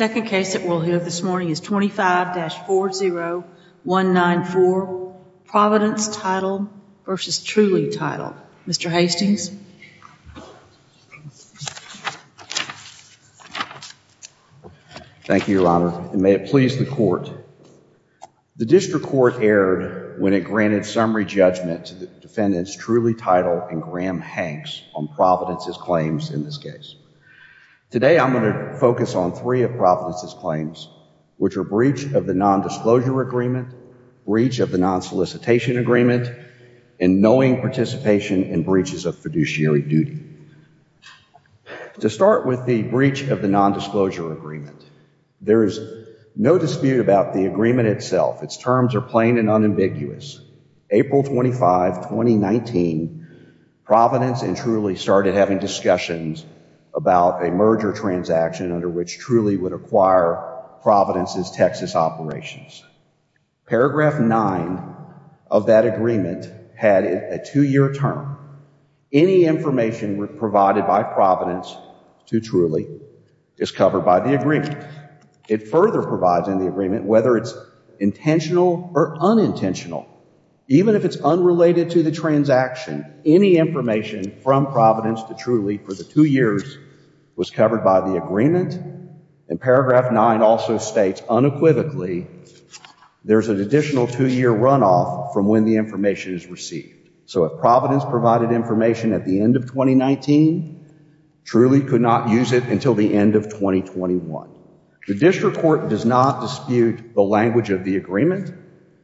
II, Senate Bill 4184. will hear this morning is 25-40194, Providence Title versus Truly Title. Mr. Hastings? Thank you, Your Honor, and may it please the Court. The District Court erred when it granted summary judgment to the defendants Truly Title and Graham Hanks on Providence's claims in this case. Today, I'm going to focus on three of Providence's claims, which are breach of the nondisclosure agreement, breach of the nonsolicitation agreement, and knowing participation in breaches of fiduciary duty. To start with the breach of the nondisclosure agreement, there is no dispute about the agreement itself. Its terms are plain and unambiguous. April 25, 2019, Providence and Truly started having discussions about a merger transaction under which Truly would acquire Providence's Texas operations. Paragraph 9 of that agreement had a two-year term. Any information provided by Providence to Truly is covered by the agreement. It further provides in the agreement whether it's intentional or unintentional. Even if it's unrelated to the transaction, any information from Providence to Truly for the two years was covered by the agreement. And paragraph 9 also states unequivocally there's an additional two-year runoff from when the information is received. So if Providence provided information at the end of 2019, Truly could not use it until the end of 2021. The district court does not dispute the language of the agreement,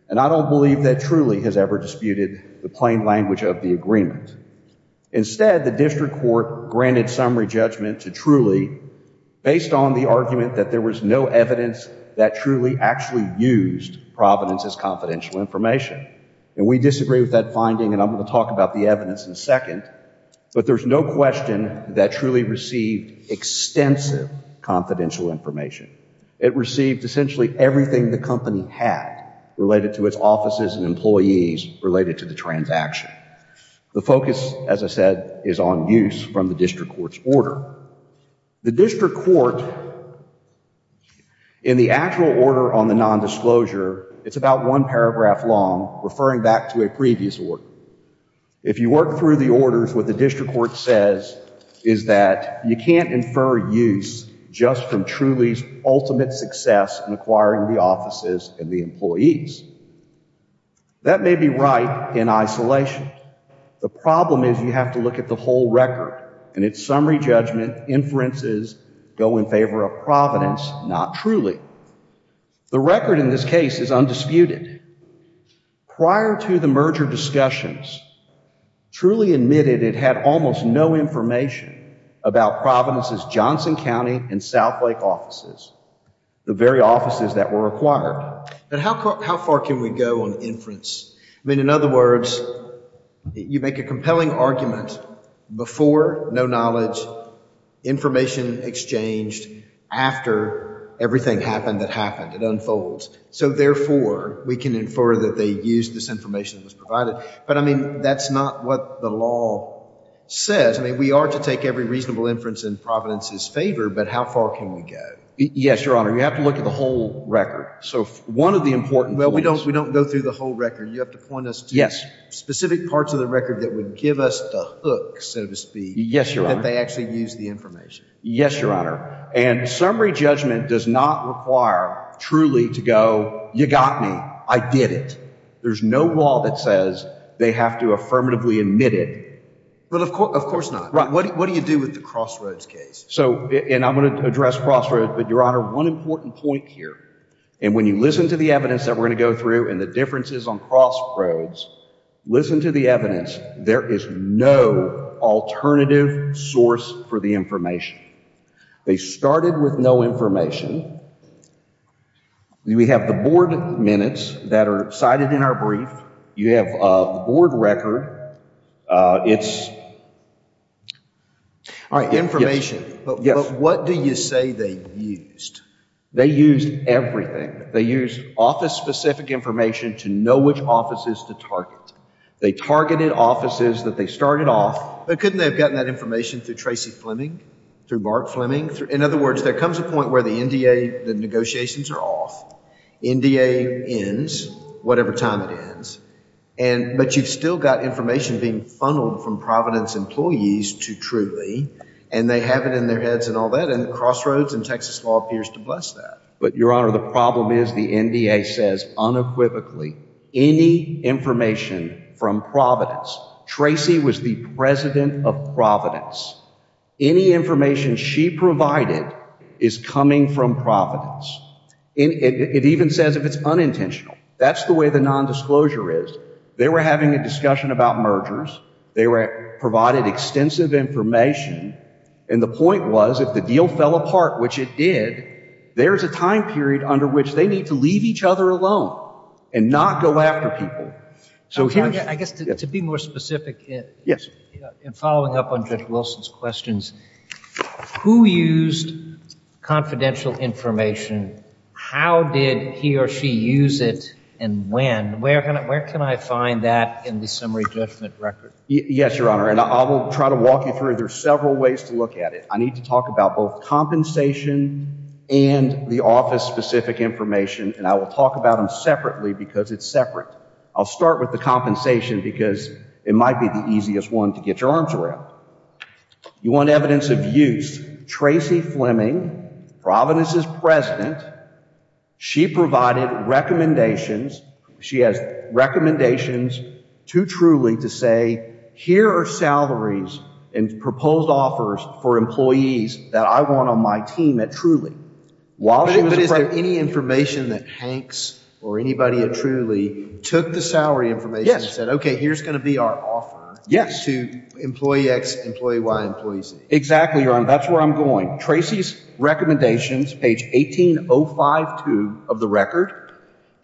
and I don't believe that Truly has ever disputed the plain language of the agreement. Instead, the district court granted summary judgment to Truly based on the argument that there was no evidence that Truly actually used Providence's confidential information. And we disagree with that finding, and I'm going to talk about the evidence in a second. But there's no question that Truly received extensive confidential information. It received essentially everything the company had related to its offices and employees related to the transaction. The focus, as I said, is on use from the district court's order. The district court, in the actual order on the nondisclosure, it's about one paragraph long, referring back to a previous order. If you work through the orders, what the district court says is that you can't infer use just from Truly's ultimate success in acquiring the offices and the employees. That may be right in isolation. The problem is you have to look at the whole record, and its summary judgment inferences go in favor of Providence, not Truly. The record in this case is undisputed. Prior to the merger discussions, Truly admitted it had almost no information about Providence's Johnson County and Southlake offices, the very offices that were acquired. But how far can we go on inference? I mean, in other words, you make a compelling argument before no knowledge, information exchanged, after everything happened that happened, it unfolds. So therefore, we can infer that they used this information that was provided. But I mean, that's not what the law says. I mean, we are to take every reasonable inference in Providence's favor, but how far can we go? Yes, Your Honor. You have to look at the whole record. So one of the important points- Well, we don't go through the whole record. You have to point us to- Specific parts of the record that would give us the hook, so to speak, that they actually used the information. Yes, Your Honor. And summary judgment does not require Truly to go, you got me, I did it. There's no law that says they have to affirmatively admit it. But of course not. What do you do with the Crossroads case? So, and I'm going to address Crossroads, but Your Honor, one important point here, and when you listen to the evidence that we're going to go through and the differences on Crossroads, listen to the evidence. There is no alternative source for the information. They started with no information. We have the board minutes that are cited in our brief. You have the board record. It's- All right, information, but what do you say they used? They used everything. They used office-specific information to know which offices to target. They targeted offices that they started off- But couldn't they have gotten that information through Tracy Fleming, through Mark Fleming? In other words, there comes a point where the NDA, the negotiations are off, NDA ends, whatever time it ends, but you've still got information being funneled from Providence employees to Truly, and they have it in their heads and all that, and Crossroads and Texas law appears to bless that. But, Your Honor, the problem is the NDA says unequivocally, any information from Providence, Tracy was the president of Providence, any information she provided is coming from Providence. It even says if it's unintentional. That's the way the nondisclosure is. They were having a discussion about mergers. They provided extensive information, and the point was, if the deal fell apart, which it did, there's a time period under which they need to leave each other alone and not go after people. I guess, to be more specific, in following up on Judge Wilson's questions, who used confidential information? How did he or she use it, and when? Where can I find that in the summary judgment record? Yes, Your Honor, and I will try to walk you through it. There's several ways to look at it. I need to talk about both compensation and the office-specific information, and I will talk about them separately because it's separate. I'll start with the compensation because it might be the easiest one to get your arms around. You want evidence of use. Tracy Fleming, Providence's president, she provided recommendations. She has recommendations to Trulie to say, here are salaries and proposed offers for employees that I want on my team at Trulie. While she was- But is there any information that Hanks or anybody at Trulie took the salary information and said, okay, here's going to be our offer to employee X, employee Y, employee Z? Exactly, Your Honor. That's where I'm going. Tracy's recommendations, page 18052 of the record,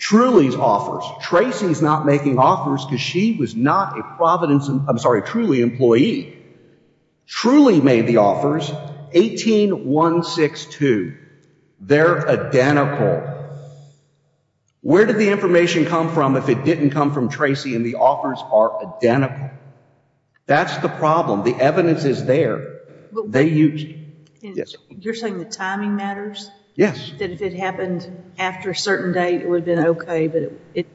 Trulie's offers. Tracy's not making offers because she was not a Trulie employee. Trulie made the offers, 18162. They're identical. Where did the information come from if it didn't come from Tracy and the offers are That's the problem. The evidence is there. They used- You're saying the timing matters? Yes. That if it happened after a certain date, it would have been okay, but it-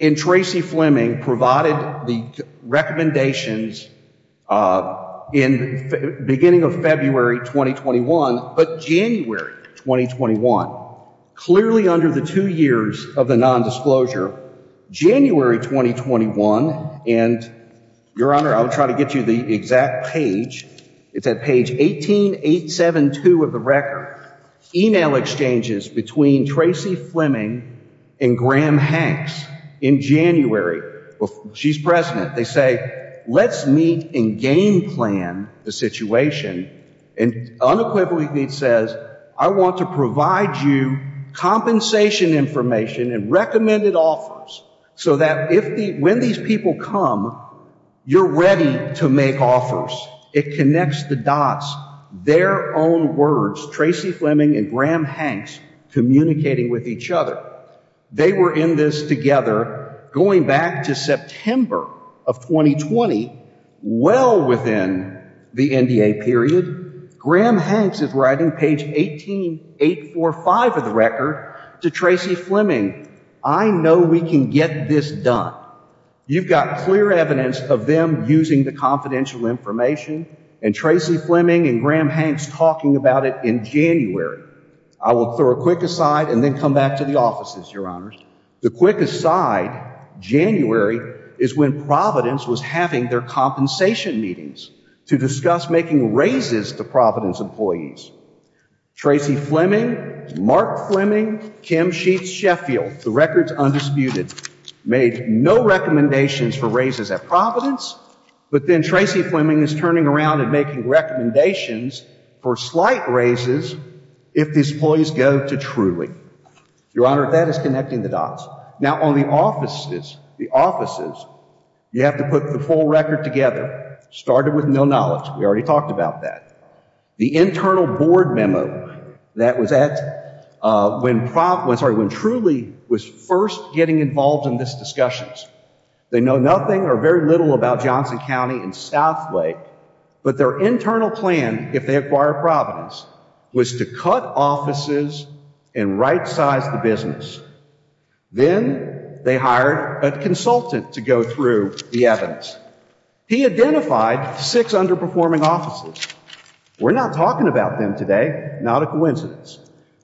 And Tracy Fleming provided the recommendations in the beginning of February 2021, but January 2021, clearly under the two years of the nondisclosure, January 2021, and Your Honor, I'll try to get you the exact page. It's at page 18872 of the record. Email exchanges between Tracy Fleming and Graham Hanks in January. She's president. They say, let's meet and game plan the situation and unequivocally it says, I want to provide you compensation information and recommended offers so that when these people come, you're ready to make offers. It connects the dots, their own words, Tracy Fleming and Graham Hanks communicating with each other. They were in this together going back to September of 2020, well within the NDA period. Graham Hanks is writing page 18845 of the record to Tracy Fleming. I know we can get this done. You've got clear evidence of them using the confidential information and Tracy Fleming and Graham Hanks talking about it in January. I will throw a quick aside and then come back to the offices, Your Honors. The quick aside, January is when Providence was having their compensation meetings to discuss making raises to Providence employees. Tracy Fleming, Mark Fleming, Kim Sheets Sheffield, the records undisputed, made no recommendations for raises at Providence, but then Tracy Fleming is turning around and making recommendations for slight raises if these employees go to Truly. Your Honor, that is connecting the dots. Now on the offices, the offices, you have to put the full record together, started with no knowledge. We already talked about that. The internal board memo that was at when Truly was first getting involved in this discussion. They know nothing or very little about Johnson County and Southlake, but their internal plan, if they acquire Providence, was to cut offices and right size the business. Then they hired a consultant to go through the evidence. He identified six underperforming offices. We're not talking about them today, not a coincidence.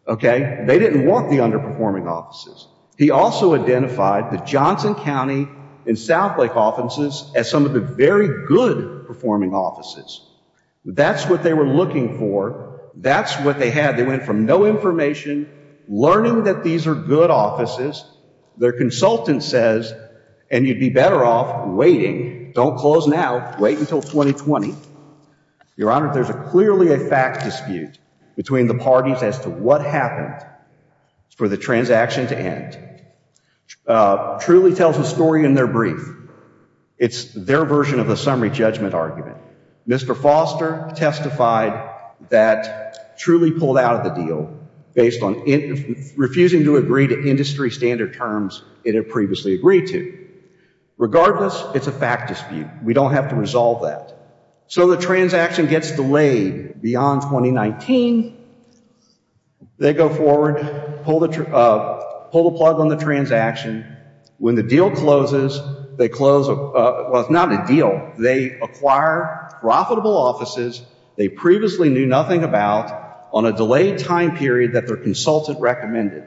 They didn't want the underperforming offices. He also identified the Johnson County and Southlake offices as some of the very good performing offices. That's what they were looking for. That's what they had. They went from no information, learning that these are good offices. Their consultant says, and you'd be better off waiting. Don't close now. Wait until 2020. Your Honor, there's clearly a fact dispute between the parties as to what happened for the transaction to end. Truly tells a story in their brief. It's their version of a summary judgment argument. Mr. Foster testified that Truly pulled out of the deal based on refusing to agree to industry standard terms it had previously agreed to. Regardless, it's a fact dispute. We don't have to resolve that. So the transaction gets delayed beyond 2019. They go forward, pull the plug on the transaction. When the deal closes, they close, well, it's not a deal. They acquire profitable offices they previously knew nothing about on a delayed time period that their consultant recommended.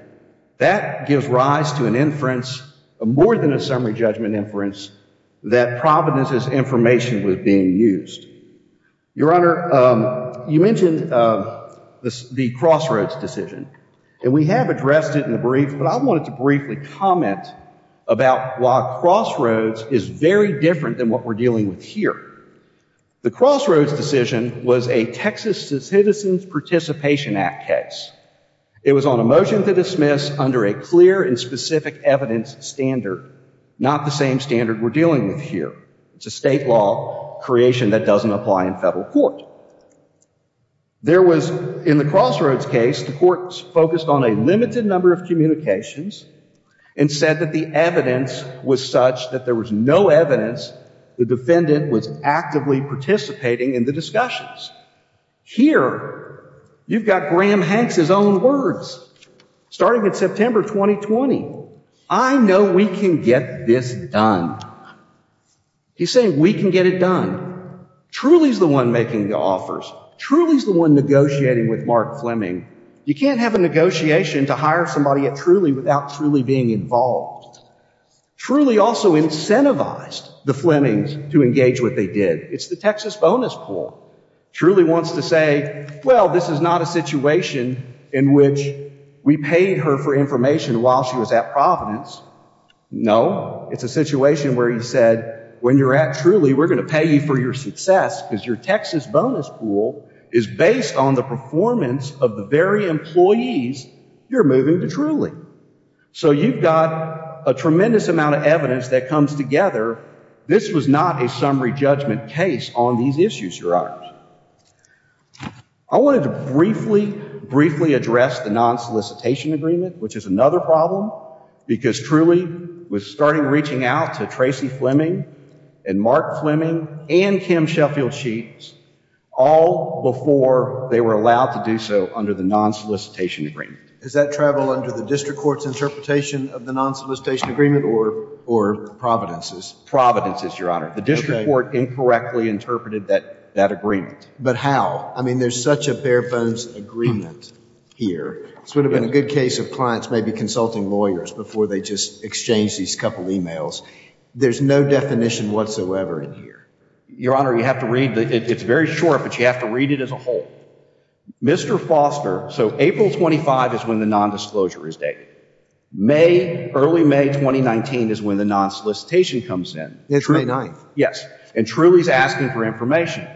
That gives rise to an inference, more than a summary judgment inference, that Providence's information was being used. Your Honor, you mentioned the Crossroads decision. We have addressed it in the brief, but I wanted to briefly comment about why Crossroads is very different than what we're dealing with here. The Crossroads decision was a Texas Citizens Participation Act case. It was on a motion to dismiss under a clear and specific evidence standard, not the same standard we're dealing with here. It's a state law creation that doesn't apply in federal court. There was, in the Crossroads case, the court focused on a limited number of communications and said that the evidence was such that there was no evidence the defendant was actively participating in the discussions. Here, you've got Graham Hanks' own words, starting in September 2020. I know we can get this done. He's saying we can get it done. Truly's the one making the offers. Truly's the one negotiating with Mark Fleming. You can't have a negotiation to hire somebody at Truly without Truly being involved. Truly also incentivized the Flemings to engage what they did. It's the Texas bonus pool. Truly wants to say, well, this is not a situation in which we paid her for information while she was at Providence. No, it's a situation where he said, when you're at Truly, we're going to pay you for your success because your Texas bonus pool is based on the performance of the very employees you're moving to Truly. So you've got a tremendous amount of evidence that comes together. This was not a summary judgment case on these issues, Your Honors. I wanted to briefly, briefly address the non-solicitation agreement, which is another problem, because Truly was starting reaching out to Tracy Fleming and Mark Fleming and Kim Sheffield Sheets all before they were allowed to do so under the non-solicitation agreement. Does that travel under the district court's interpretation of the non-solicitation agreement or Providence's? Providence's, Your Honor. The district court incorrectly interpreted that agreement. But how? I mean, there's such a bare-bones agreement here, it would have been a good case of clients maybe consulting lawyers before they just exchanged these couple emails. There's no definition whatsoever in here. Your Honor, you have to read, it's very short, but you have to read it as a whole. Mr. Foster, so April 25 is when the nondisclosure is dated. May, early May 2019 is when the non-solicitation comes in. It's May 9th. Yes. And Truly's asking for information.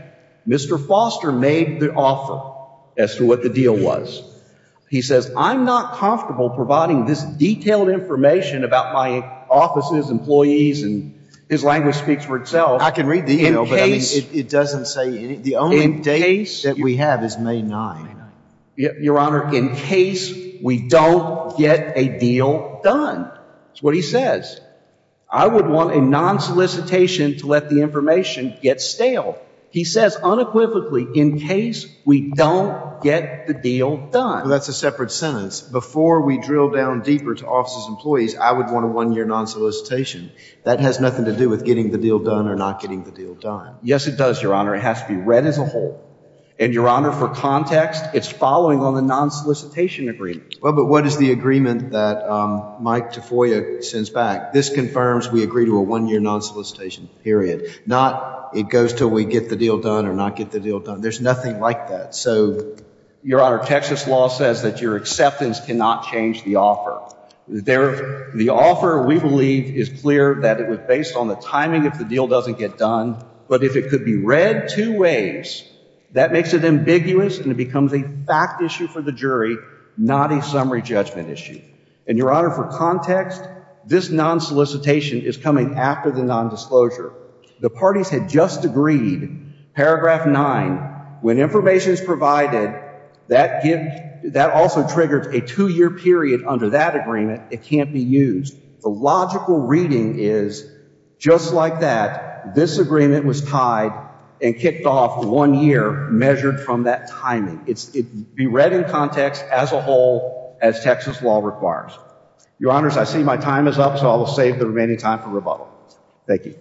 Mr. Foster made the offer as to what the deal was. He says, I'm not comfortable providing this detailed information about my offices, employees, and his language speaks for itself. I can read the email, but it doesn't say the only date that we have is May 9th. Your Honor, in case we don't get a deal done is what he says. I would want a non-solicitation to let the information get stale. He says unequivocally, in case we don't get the deal done. That's a separate sentence. Before we drill down deeper to offices, employees, I would want a one-year non-solicitation. That has nothing to do with getting the deal done or not getting the deal done. Yes, it does, Your Honor. It has to be read as a whole. And Your Honor, for context, it's following on the non-solicitation agreement. Well, but what is the agreement that Mike Tafoya sends back? This confirms we agree to a one-year non-solicitation, period. Not it goes until we get the deal done or not get the deal done. There's nothing like that. So Your Honor, Texas law says that your acceptance cannot change the offer. The offer, we believe, is clear that it was based on the timing if the deal doesn't get done. But if it could be read two ways, that makes it ambiguous and it becomes a fact issue for the jury, not a summary judgment issue. And Your Honor, for context, this non-solicitation is coming after the non-disclosure. The parties had just agreed, paragraph nine, when information is provided, that also triggers a two-year period under that agreement. It can't be used. The logical reading is just like that. This agreement was tied and kicked off one year measured from that timing. It be read in context as a whole as Texas law requires. Your Honors, I see my time is up, so I will save the remaining time for rebuttal. Thank you.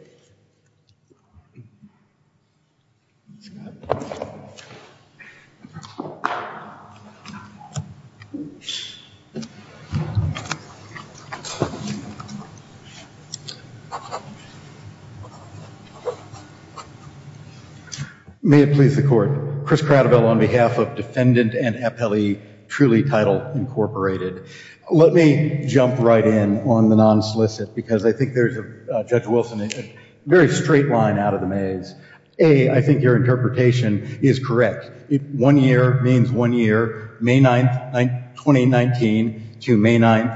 May it please the Court. Chris Cradivel on behalf of Defendant and Appellee Truly Title Incorporated. Let me jump right in on the non-solicit because I think there's, Judge Wilson, a very straight line out of the maze. A, I think your interpretation is correct. One year means one year, May 9, 2019 to May 9,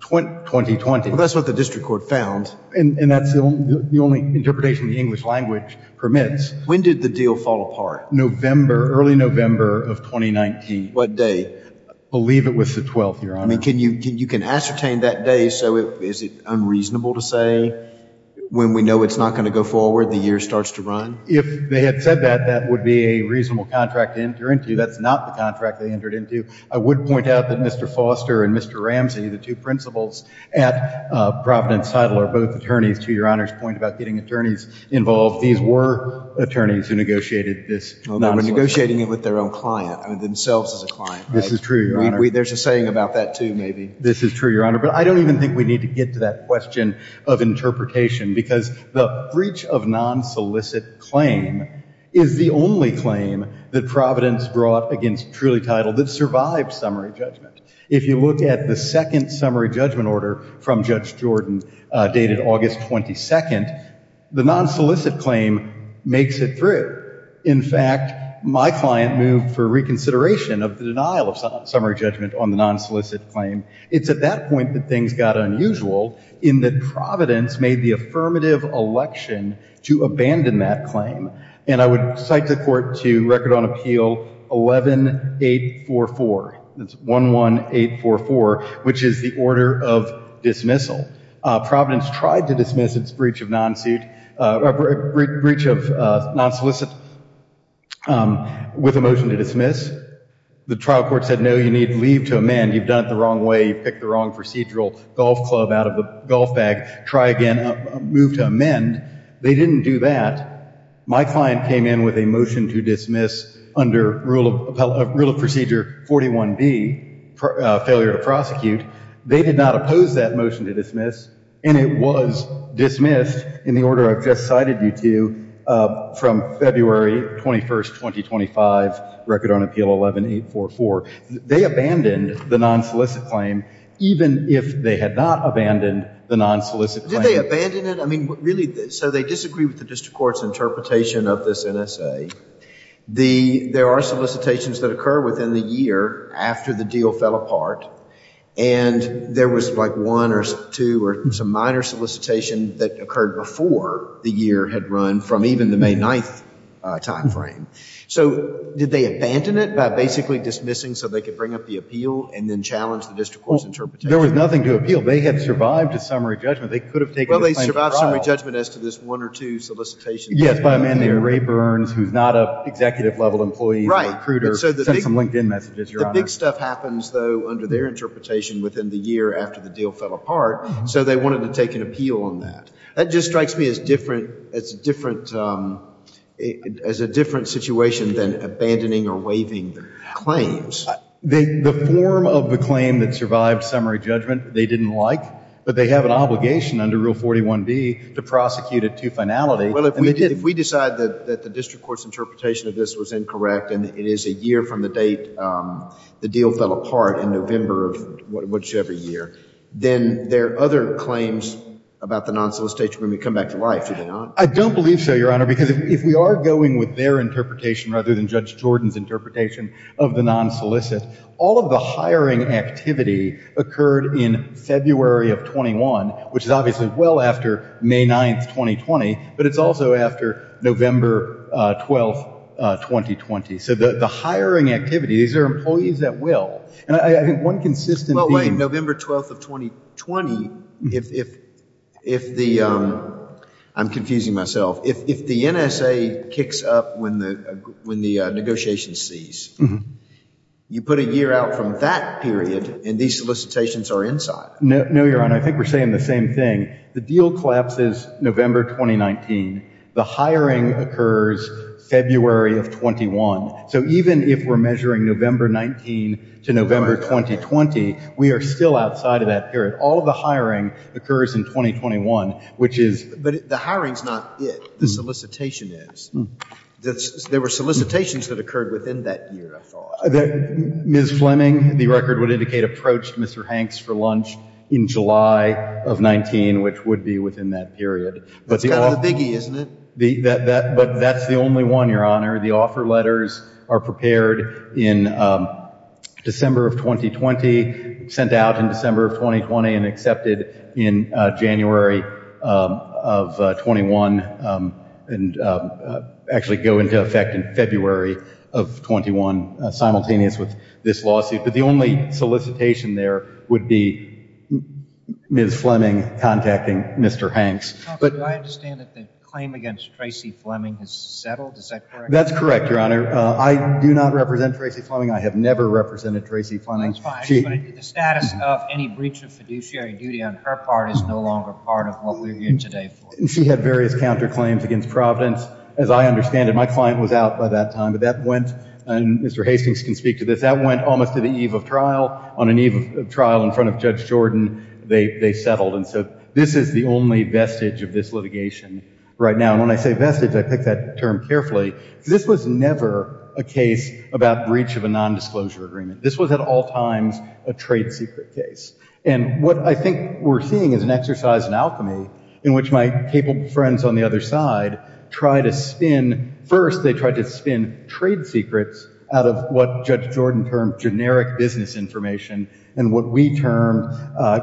2020. That's what the district court found. That's the only interpretation the English language permits. When did the deal fall apart? November, early November of 2019. What day? I believe it was the 12th, Your Honor. You can ascertain that day, so is it unreasonable to say when we know it's not going to go forward, the year starts to run? If they had said that, that would be a reasonable contract to enter into. That's not the contract they entered into. I would point out that Mr. Foster and Mr. Ramsey, the two principals at Providence Title are both attorneys. To Your Honor's point about getting attorneys involved, these were attorneys who negotiated this non-solicit. They were negotiating it with their own client, themselves as a client. This is true, Your Honor. There's a saying about that, too, maybe. This is true, Your Honor. But I don't even think we need to get to that question of interpretation because the breach of non-solicit claim is the only claim that Providence brought against Truly Title that survived summary judgment. If you look at the second summary judgment order from Judge Jordan, dated August 22nd, the non-solicit claim makes it through. In fact, my client moved for reconsideration of the denial of summary judgment on the non-solicit claim. It's at that point that things got unusual in that Providence made the affirmative election to abandon that claim. And I would cite the court to record on appeal 11844, that's 11844, which is the order of dismissal. Providence tried to dismiss its breach of non-solicit with a motion to dismiss. The trial court said, no, you need to leave to amend. You've done it the wrong way. You picked the wrong procedural golf club out of the golf bag. Try again. Move to amend. They didn't do that. My client came in with a motion to dismiss under rule of procedure 41B, failure to prosecute. They did not oppose that motion to dismiss, and it was dismissed in the order I've just cited you to from February 21st, 2025, record on appeal 11844. They abandoned the non-solicit claim, even if they had not abandoned the non-solicit claim. Did they abandon it? So they disagree with the district court's interpretation of this NSA. There are solicitations that occur within the year after the deal fell apart, and there was like one or two or some minor solicitation that occurred before the year had run from even the May 9th time frame. So did they abandon it by basically dismissing so they could bring up the appeal and then challenge the district court's interpretation? There was nothing to appeal. They had survived a summary judgment. They could have taken the claim to trial. Well, they survived a summary judgment as to this one or two solicitations. Yes, by a man named Ray Burns, who's not an executive-level employee, a recruiter, sent some LinkedIn messages, Your Honor. The big stuff happens, though, under their interpretation within the year after the deal fell apart, so they wanted to take an appeal on that. That just strikes me as a different situation than abandoning or waiving the claims. The form of the claim that survived summary judgment they didn't like, but they have an obligation under Rule 41B to prosecute a two-finality, and they didn't. Well, if we decide that the district court's interpretation of this was incorrect and it is a year from the date the deal fell apart in November of whichever year, then there are other claims about the non-solicitation when we come back to life, do they not? I don't believe so, Your Honor, because if we are going with their interpretation rather than Judge Jordan's interpretation of the non-solicit, all of the hiring activity occurred in February of 21, which is obviously well after May 9th, 2020, but it's also after November 12th, 2020, so the hiring activity, these are employees at will, and I think one consistent theme- Well, wait, November 12th of 2020, if the, I'm confusing myself, if the NSA kicks up when the negotiations cease, you put a year out from that period, and these solicitations are inside. No, Your Honor, I think we're saying the same thing. The deal collapses November 2019, the hiring occurs February of 21, so even if we're measuring November 19 to November 2020, we are still outside of that period. All of the hiring occurs in 2021, which is- But the hiring's not it, the solicitation is. There were solicitations that occurred within that year, I thought. Ms. Fleming, the record would indicate, approached Mr. Hanks for lunch in July of 19, which would be within that period. But the- That's kind of the biggie, isn't it? But that's the only one, Your Honor. The offer letters are prepared in December of 2020, sent out in December of 2020, and accepted in January of 21, and actually go into effect in February of 21, simultaneous with this lawsuit. But the only solicitation there would be Ms. Fleming contacting Mr. Hanks. But- Do I understand that the claim against Tracey Fleming has settled, is that correct? That's correct, Your Honor. I do not represent Tracey Fleming, I have never represented Tracey Fleming. That's fine. But the status of any breach of fiduciary duty on her part is no longer part of what we're here today for. And she had various counterclaims against Providence. As I understand it, my client was out by that time, but that went, and Mr. Hastings can speak to this, that went almost to the eve of trial. On an eve of trial in front of Judge Jordan, they settled, and so this is the only vestige of this litigation right now. And when I say vestige, I pick that term carefully, because this was never a case about breach of a nondisclosure agreement. This was at all times a trade secret case. And what I think we're seeing is an exercise in alchemy in which my capable friends on the other side try to spin, first they try to spin trade secrets out of what Judge Jordan termed generic business information, and what we termed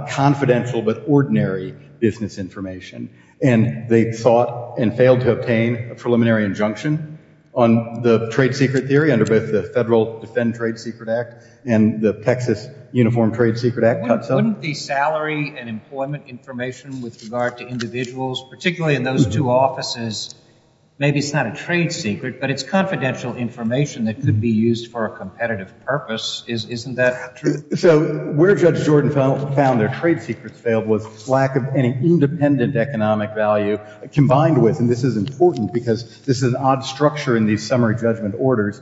confidential but ordinary business information. And they sought and failed to obtain a preliminary injunction on the trade secret theory under the Federal Defend Trade Secret Act, and the Texas Uniform Trade Secret Act cuts out. Wouldn't the salary and employment information with regard to individuals, particularly in those two offices, maybe it's not a trade secret, but it's confidential information that could be used for a competitive purpose. Isn't that true? So where Judge Jordan found their trade secrets failed was lack of any independent economic value combined with, and this is important because this is an odd structure in these summary judgment orders,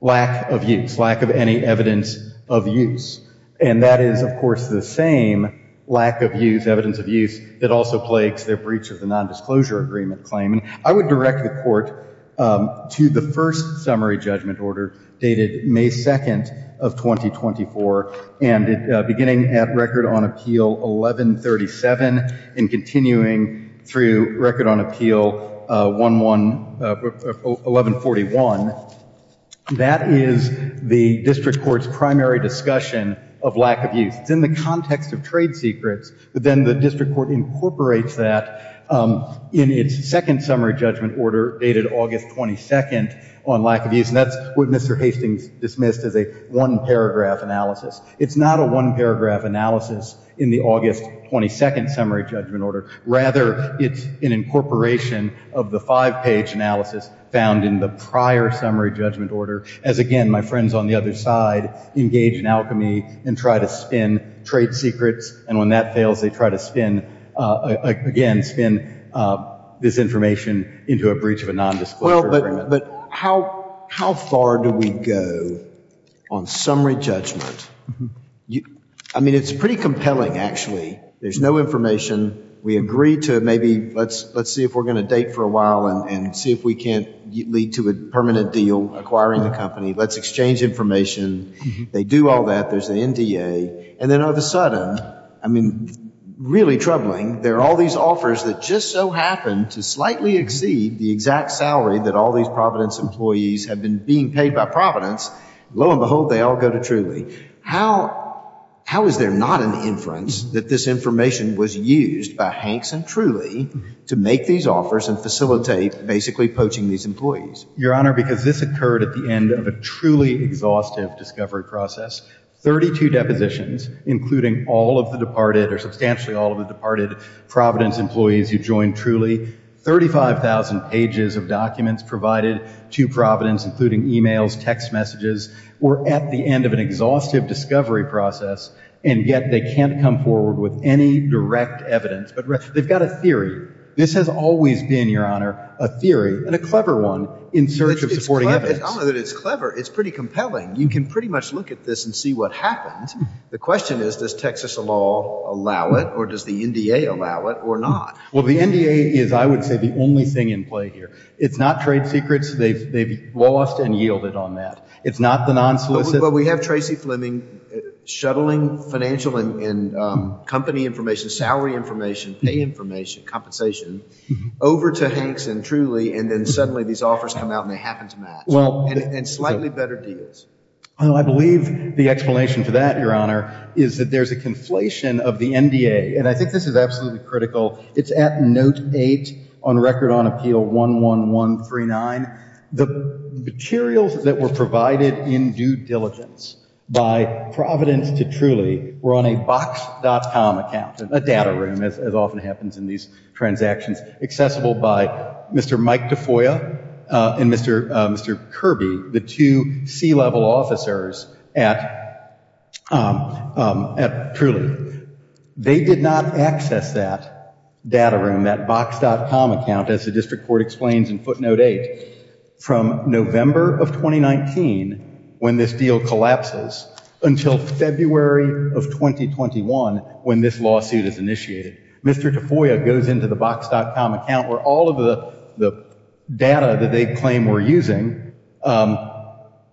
lack of use, lack of any evidence of use. And that is, of course, the same lack of use, evidence of use, that also plagues their breach of the nondisclosure agreement claim. I would direct the Court to the first summary judgment order dated May 2nd of 2024, beginning at Record on Appeal 1137 and continuing through Record on Appeal 1141. That is the district court's primary discussion of lack of use. It's in the context of trade secrets, but then the district court incorporates that in its second summary judgment order dated August 22nd on lack of use, and that's what Mr. Hastings dismissed as a one-paragraph analysis. It's not a one-paragraph analysis in the August 22nd summary judgment order. Rather, it's an incorporation of the five-page analysis found in the prior summary judgment order, as again, my friends on the other side engage in alchemy and try to spin trade secrets, and when that fails, they try to spin, again, spin this information into a breach of a nondisclosure agreement. But how far do we go on summary judgment? I mean, it's pretty compelling, actually. There's no information. We agree to maybe let's see if we're going to date for a while and see if we can't lead to a permanent deal acquiring the company. Let's exchange information. They do all that. There's the NDA, and then all of a sudden, I mean, really troubling, there are all these that all these Providence employees have been being paid by Providence. Lo and behold, they all go to Truly. How is there not an inference that this information was used by Hanks and Truly to make these offers and facilitate basically poaching these employees? Your Honor, because this occurred at the end of a truly exhaustive discovery process, 32 depositions, including all of the departed or substantially all of the departed Providence employees who joined Truly, 35,000 pages of documents provided to Providence, including emails, text messages, were at the end of an exhaustive discovery process, and yet they can't come forward with any direct evidence. But they've got a theory. This has always been, Your Honor, a theory and a clever one in search of supporting evidence. I don't know that it's clever. It's pretty compelling. You can pretty much look at this and see what happens. The question is, does Texas law allow it, or does the NDA allow it, or not? Well, the NDA is, I would say, the only thing in play here. It's not trade secrets. They've lost and yielded on that. It's not the non-solicit. But we have Tracy Fleming shuttling financial and company information, salary information, pay information, compensation, over to Hanks and Truly, and then suddenly these offers come out and they happen to match, and slightly better deals. Well, I believe the explanation for that, Your Honor, is that there's a conflation of the NDA. And I think this is absolutely critical. It's at Note 8 on Record on Appeal 11139. The materials that were provided in due diligence by Providence to Truly were on a Box.com account, a data room, as often happens in these transactions, accessible by Mr. Mike DeFoya and Mr. Kirby, the two C-level officers at Truly. They did not access that data room, that Box.com account, as the District Court explains in Footnote 8, from November of 2019, when this deal collapses, until February of 2021, when this lawsuit is initiated. Mr. DeFoya goes into the Box.com account, where all of the data that they claim we're using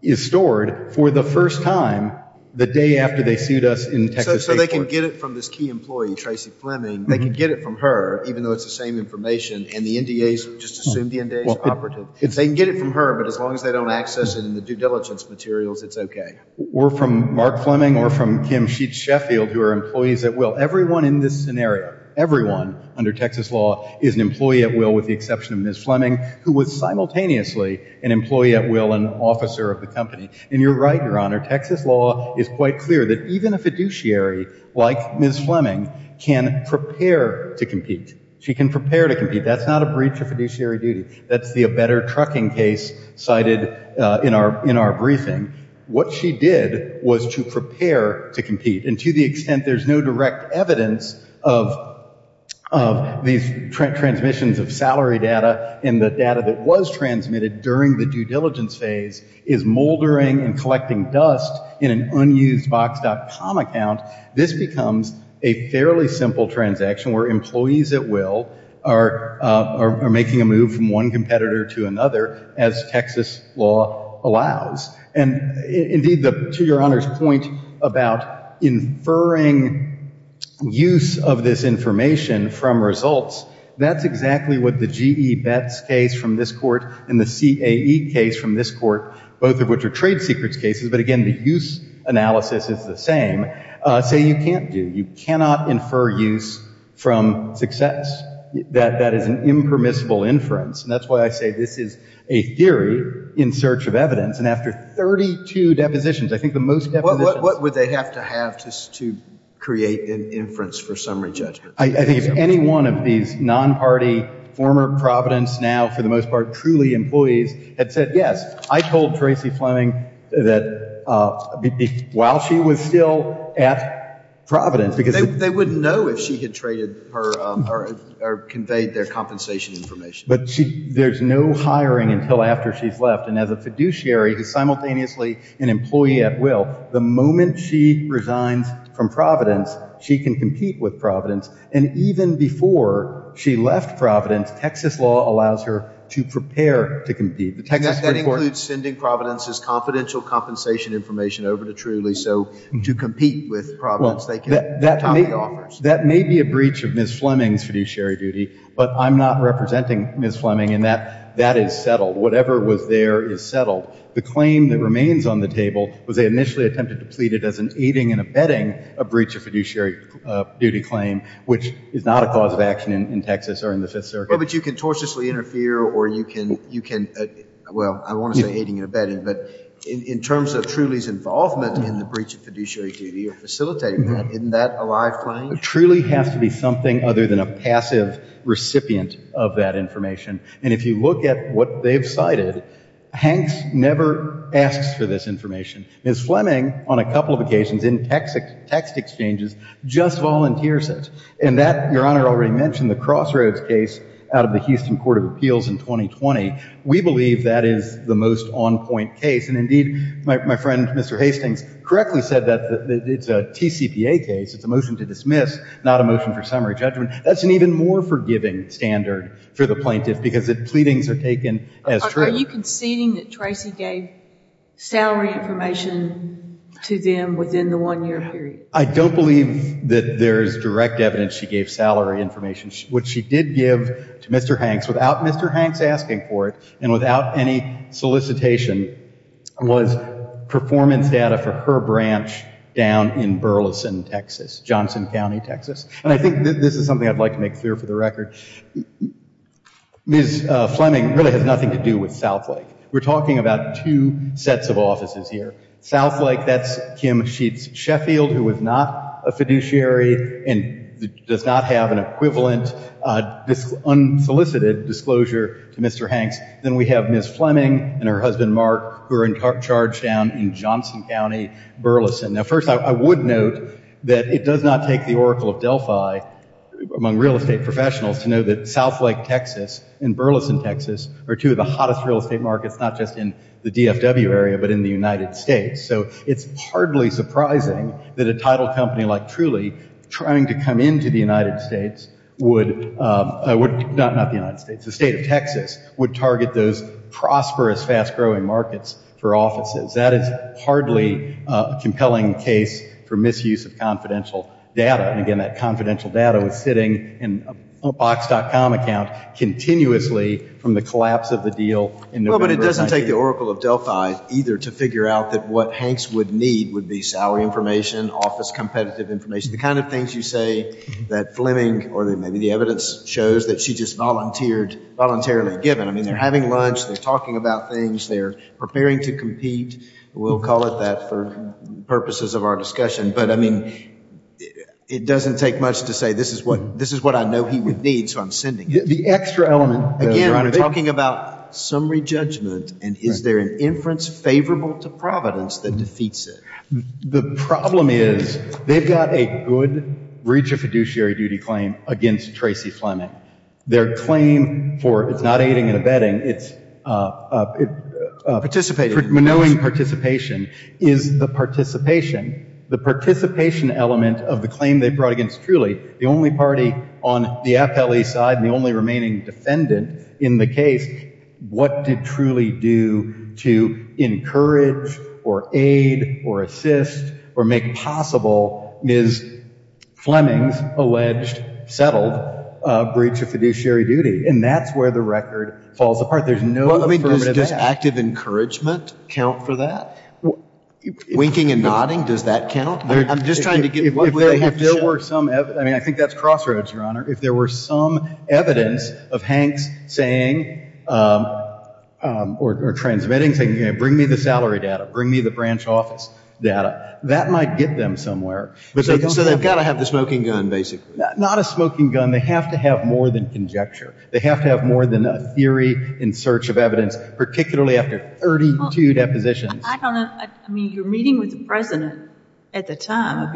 is stored for the first time, the day after they sued us in Texas State Court. So they can get it from this key employee, Tracy Fleming, they can get it from her, even though it's the same information, and the NDAs just assume the NDAs are operative. They can get it from her, but as long as they don't access it in the due diligence materials, it's okay. Or from Mark Fleming, or from Kim Sheets Sheffield, who are employees at Will. Everyone in this scenario, everyone under Texas law is an employee at Will, with the exception of Ms. Fleming, who was simultaneously an employee at Will and officer of the company. And you're right, Your Honor, Texas law is quite clear that even a fiduciary like Ms. Fleming can prepare to compete. She can prepare to compete. That's not a breach of fiduciary duty. That's the better trucking case cited in our briefing. What she did was to prepare to compete. And to the extent there's no direct evidence of these transmissions of salary data, and the data that was transmitted during the due diligence phase, is moldering and collecting dust in an unused box.com account, this becomes a fairly simple transaction where employees at Will are making a move from one competitor to another, as Texas law allows. And indeed, to Your Honor's point about inferring use of this information from results, that's exactly what the GE Bets case from this court and the CAE case from this court, both of which are trade secrets cases, but again, the use analysis is the same, say you can't do. You cannot infer use from success. That is an impermissible inference, and that's why I say this is a theory in search of evidence. And after 32 depositions, I think the most depositions. What would they have to have to create an inference for summary judgment? I think if any one of these non-party, former Providence, now for the most part, truly employees had said yes. I told Tracey Fleming that while she was still at Providence, because... They wouldn't know if she had traded or conveyed their compensation information. But there's no hiring until after she's left. And as a fiduciary, who's simultaneously an employee at will, the moment she resigns from Providence, she can compete with Providence. And even before she left Providence, Texas law allows her to prepare to compete. The Texas court... And that includes sending Providence's confidential compensation information over to Truly, so to compete with Providence, they can top the offers. That may be a breach of Ms. Fleming's fiduciary duty, but I'm not representing Ms. Fleming in that. That is settled. Whatever was there is settled. The claim that remains on the table was they initially attempted to plead it as an aiding and abetting a breach of fiduciary duty claim, which is not a cause of action in Texas or in the Fifth Circuit. But you can tortiously interfere, or you can, well, I want to say aiding and abetting, but in terms of Truly's involvement in the breach of fiduciary duty or facilitating that, isn't that a live claim? Truly has to be something other than a passive recipient of that information. And if you look at what they've cited, Hanks never asks for this information. Ms. Fleming, on a couple of occasions in text exchanges, just volunteers it. And that, Your Honor already mentioned, the Crossroads case out of the Houston Court of Appeals in 2020, we believe that is the most on-point case, and indeed, my friend Mr. Hastings correctly said that it's a TCPA case, it's a motion to dismiss, not a motion for summary judgment. That's an even more forgiving standard for the plaintiff, because the pleadings are taken as true. Are you conceding that Tracy gave salary information to them within the one-year period? I don't believe that there's direct evidence she gave salary information. What she did give to Mr. Hanks, without Mr. Hanks asking for it, and without any solicitation, was performance data for her branch down in Burleson, Texas, Johnson County, Texas. And I think this is something I'd like to make clear for the record. Ms. Fleming really has nothing to do with Southlake. We're talking about two sets of offices here. Southlake, that's Kim Sheets Sheffield, who is not a fiduciary and does not have an equivalent unsolicited disclosure to Mr. Hanks. Then we have Ms. Fleming and her husband, Mark, who are in charge down in Johnson County, Burleson. Now, first, I would note that it does not take the Oracle of Delphi, among real estate professionals, to know that Southlake, Texas, and Burleson, Texas, are two of the hottest real estate markets, not just in the DFW area, but in the United States. So it's hardly surprising that a title company like Truly, trying to come into the United States, not the United States, the state of Texas, would target those prosperous, fast-growing markets for offices. That is hardly a compelling case for misuse of confidential data. And again, that confidential data was sitting in a Box.com account continuously from the collapse of the deal in November of 19- Well, but it doesn't take the Oracle of Delphi either to figure out that what Hanks would need would be salary information, office competitive information, the kind of things you say that Fleming or maybe the evidence shows that she just volunteered voluntarily given. I mean, they're having lunch. They're talking about things. They're preparing to compete. We'll call it that for purposes of our discussion. But I mean, it doesn't take much to say this is what I know he would need, so I'm sending it. The extra element- Again, we're talking about summary judgment, and is there an inference favorable to Providence that defeats it? The problem is they've got a good reach of fiduciary duty claim against Tracy Fleming. Their claim for, it's not aiding and abetting, it's- Participating. Manoeuvring participation is the participation, the participation element of the claim they brought against Truly, the only party on the FLE side and the only remaining defendant in the case. What did Truly do to encourage or aid or assist or make possible Ms. Fleming's alleged settled breach of fiduciary duty? And that's where the record falls apart. There's no affirmative- Does active encouragement count for that? Winking and nodding, does that count? I'm just trying to get- If there were some, I mean, I think that's crossroads, Your Honor. If there were some evidence of Hanks saying or transmitting, saying, you know, bring me the salary data, bring me the branch office data, that might get them somewhere. So they've got to have the smoking gun, basically. Not a smoking gun, they have to have more than conjecture. They have to have more than a theory in search of evidence, particularly after 32 depositions. I don't know. I mean, you're meeting with the president at the time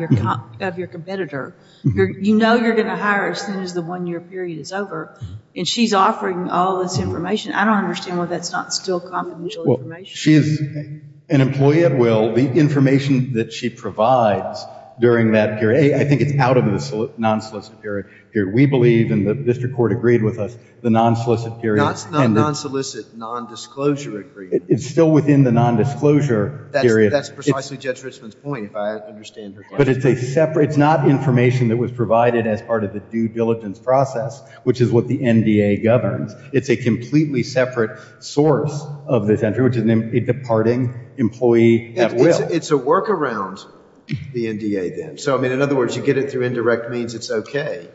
of your competitor. You know you're going to hire as soon as the one-year period is over, and she's offering all this information. I don't understand why that's not still confidential information. She is an employee at will. The information that she provides during that period, I think it's out of the non-solicit period. We believe, and the district court agreed with us, the non-solicit period- Non-solicit, non-disclosure agreement. It's still within the non-disclosure period. That's precisely Judge Richman's point, if I understand her correctly. But it's a separate, it's not information that was provided as part of the due diligence process, which is what the NDA governs. It's a completely separate source of this entry, which is a departing employee at will. It's a workaround, the NDA then. So I mean, in other words, you get it through indirect means, it's okay,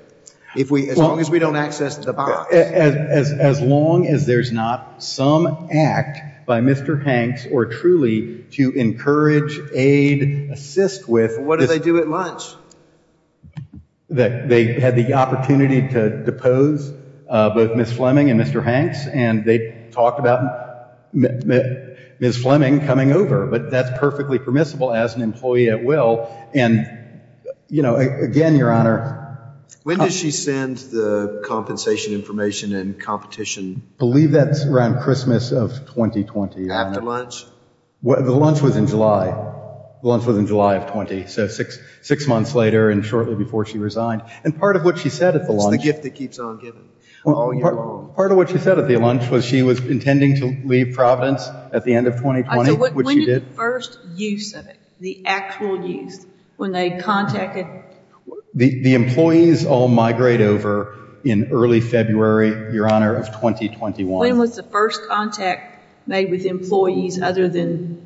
as long as we don't access the box. As long as there's not some act by Mr. Hanks, or truly, to encourage, aid, assist with, what do they do at lunch? They had the opportunity to depose both Ms. Fleming and Mr. Hanks, and they talked about Ms. Fleming coming over, but that's perfectly permissible as an employee at will, and again, Your Honor- When does she send the compensation information and competition? Believe that's around Christmas of 2020, Your Honor. After lunch? The lunch was in July, the lunch was in July of 20, so six months later, and shortly before she resigned. And part of what she said at the lunch- It's the gift that keeps on giving, all year long. Part of what she said at the lunch was she was intending to leave Providence at the end of 2020, which she did. I said, when did the first use of it, the actual use, when they contacted- The employees all migrate over in early February, Your Honor, of 2021. When was the first contact made with employees other than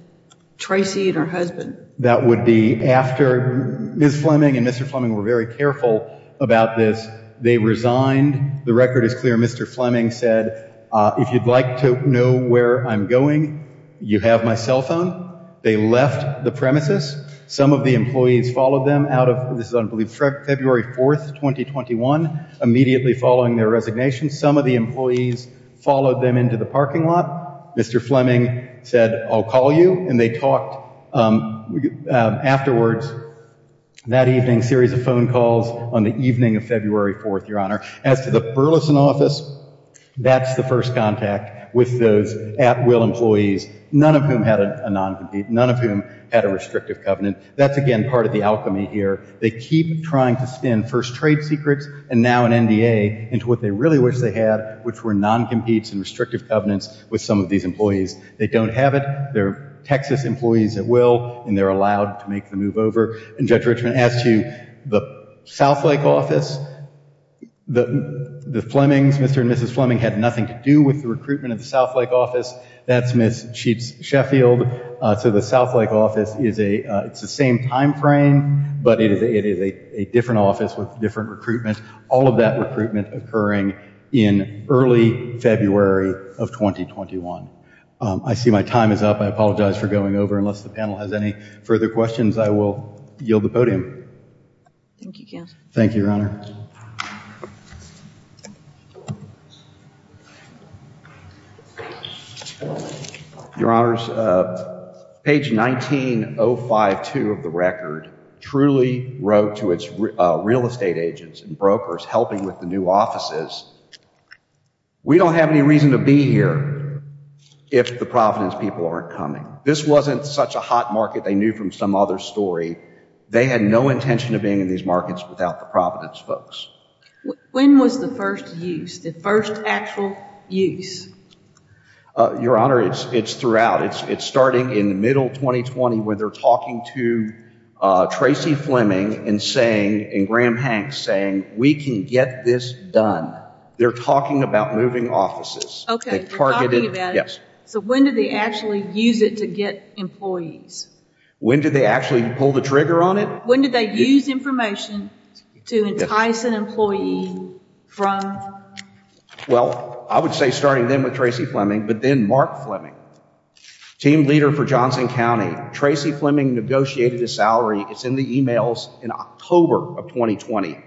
Tracy and her husband? That would be after Ms. Fleming and Mr. Fleming were very careful about this, they resigned. The record is clear, Mr. Fleming said, if you'd like to know where I'm going, you have my cell phone. They left the premises. Some of the employees followed them out of, this is, I believe, February 4th, 2021, immediately following their resignation. Some of the employees followed them into the parking lot. Mr. Fleming said, I'll call you, and they talked afterwards, that evening, series of phone calls on the evening of February 4th, Your Honor. As to the Burleson office, that's the first contact with those at-will employees, none of whom had a non-compete, none of whom had a restrictive covenant. That's again, part of the alchemy here. They keep trying to spin first trade secrets, and now an NDA, into what they really wish they had, which were non-competes and restrictive covenants with some of these employees. They don't have it. They're Texas employees at will, and they're allowed to make the move over. And Judge Richman asked you, the Southlake office, the Flemings, Mr. and Mrs. Fleming had nothing to do with the recruitment of the Southlake office. That's Ms. Sheets-Sheffield. The Southlake office, it's the same timeframe, but it is a different office with different recruitment. All of that recruitment occurring in early February of 2021. I see my time is up. I apologize for going over, unless the panel has any further questions, I will yield the Thank you, Counselor. Thank you, Your Honor. Your Honor, page 19052 of the record truly wrote to its real estate agents and brokers helping with the new offices, we don't have any reason to be here if the Providence people aren't coming. This wasn't such a hot market they knew from some other story. They had no intention of being in these markets without the Providence folks. When was the first use, the first actual use? Your Honor, it's throughout. It's starting in the middle of 2020 where they're talking to Tracy Fleming and saying, and Graham Hanks saying, we can get this done. They're talking about moving offices. Okay. They're talking about it? Yes. So when did they actually use it to get employees? When did they actually pull the trigger on it? When did they use information to entice an employee from? Well, I would say starting then with Tracy Fleming, but then Mark Fleming, team leader for Johnson County, Tracy Fleming negotiated a salary. It's in the emails in October of 2020,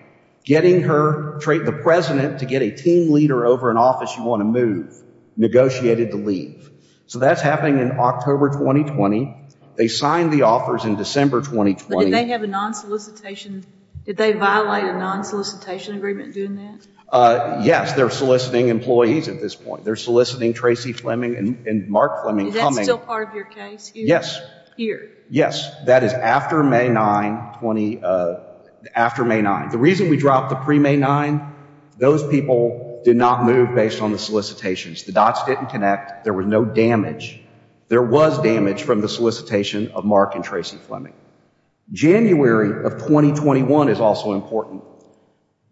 getting her, the president to get a team leader over an office you want to move, negotiated to leave. So that's happening in October, 2020. They signed the offers in December, 2020. But did they have a non-solicitation, did they violate a non-solicitation agreement doing that? Yes. They're soliciting employees at this point. They're soliciting Tracy Fleming and Mark Fleming coming. Is that still part of your case here? Yes. Yes. That is after May 9, after May 9. The reason we dropped the pre-May 9, those people did not move based on the solicitations. The dots didn't connect. There was no damage. There was damage from the solicitation of Mark and Tracy Fleming. January of 2021 is also important.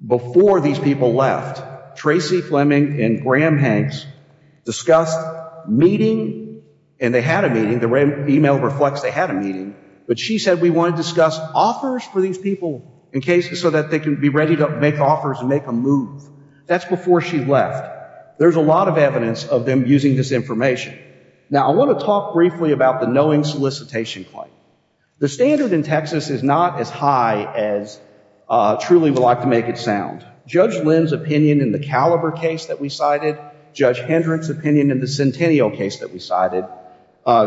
Before these people left, Tracy Fleming and Graham Hanks discussed meeting and they had a meeting. The email reflects they had a meeting, but she said, we want to discuss offers for these people in cases so that they can be ready to make offers and make a move. That's before she left. There's a lot of evidence of them using this information. Now, I want to talk briefly about the knowing solicitation claim. The standard in Texas is not as high as truly we like to make it sound. Judge Lynn's opinion in the Caliber case that we cited, Judge Hendricks' opinion in the Centennial case that we cited,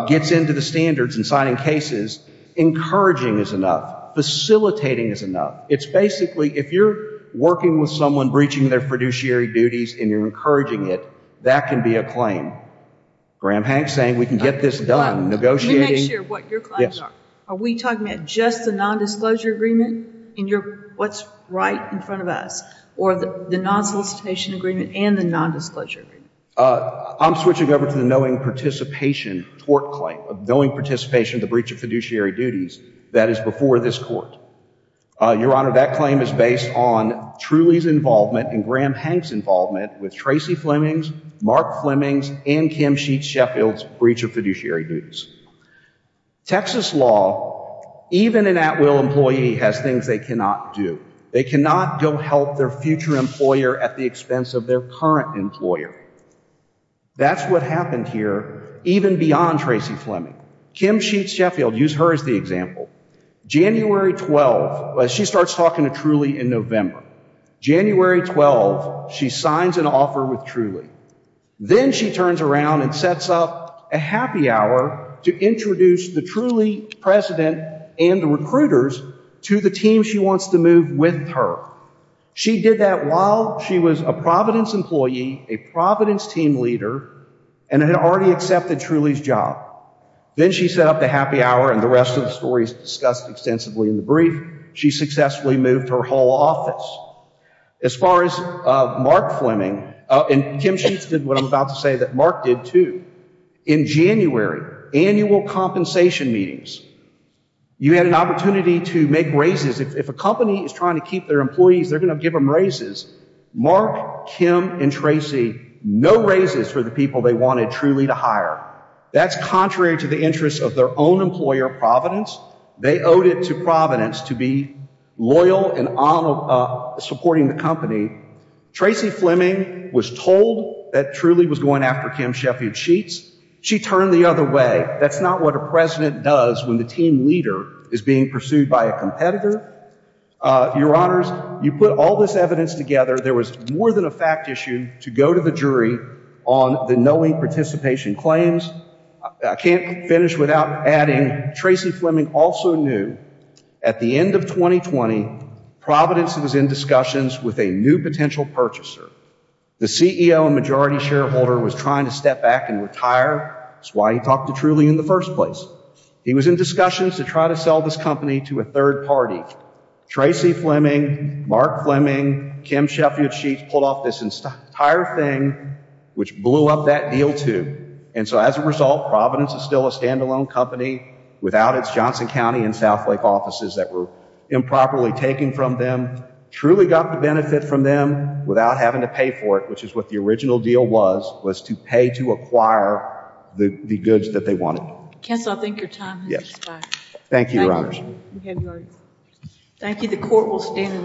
gets into the standards in signing cases. Encouraging is enough. Facilitating is enough. It's basically, if you're working with someone breaching their fiduciary duties and you're encouraging it, that can be a claim. Graham Hanks saying, we can get this done. Negotiating. Let me make sure what your claims are. Yes. Are we talking about just the non-disclosure agreement and what's right in front of us? Or the non-solicitation agreement and the non-disclosure agreement? I'm switching over to the knowing participation tort claim, knowing participation of the breach of fiduciary duties. That is before this court. Your Honor, that claim is based on Truly's involvement and Graham Hanks' involvement with Tracy Fleming's, Mark Fleming's, and Kim Sheets Sheffield's breach of fiduciary duties. Texas law, even an at-will employee has things they cannot do. They cannot go help their future employer at the expense of their current employer. That's what happened here, even beyond Tracy Fleming. Kim Sheets Sheffield, use her as the example. January 12, she starts talking to Truly in November. January 12, she signs an offer with Truly. Then she turns around and sets up a happy hour to introduce the Truly president and the recruiters to the team she wants to move with her. She did that while she was a Providence employee, a Providence team leader, and had already accepted Truly's job. Then she set up the happy hour and the rest of the stories discussed extensively in the She successfully moved her whole office. As far as Mark Fleming, and Kim Sheets did what I'm about to say that Mark did too. In January, annual compensation meetings, you had an opportunity to make raises. If a company is trying to keep their employees, they're going to give them raises. Mark, Kim, and Tracy, no raises for the people they wanted Truly to hire. That's contrary to the interests of their own employer, Providence. They owed it to Providence to be loyal and supporting the company. Tracy Fleming was told that Truly was going after Kim Sheffield Sheets. She turned the other way. That's not what a president does when the team leader is being pursued by a competitor. Your honors, you put all this evidence together. There was more than a fact issue to go to the jury on the knowing participation claims. I can't finish without adding Tracy Fleming also knew at the end of 2020, Providence was in discussions with a new potential purchaser. The CEO and majority shareholder was trying to step back and retire. That's why he talked to Truly in the first place. He was in discussions to try to sell this company to a third party. Tracy Fleming, Mark Fleming, Kim Sheffield Sheets pulled off this entire thing, which blew up that deal too. And so as a result, Providence is still a standalone company without its Johnson County and Southlake offices that were improperly taken from them. Truly got the benefit from them without having to pay for it, which is what the original deal was, was to pay to acquire the goods that they wanted. Kessler, I think your time has expired. Thank you, your honors. Thank you. The court will stand in adjournment.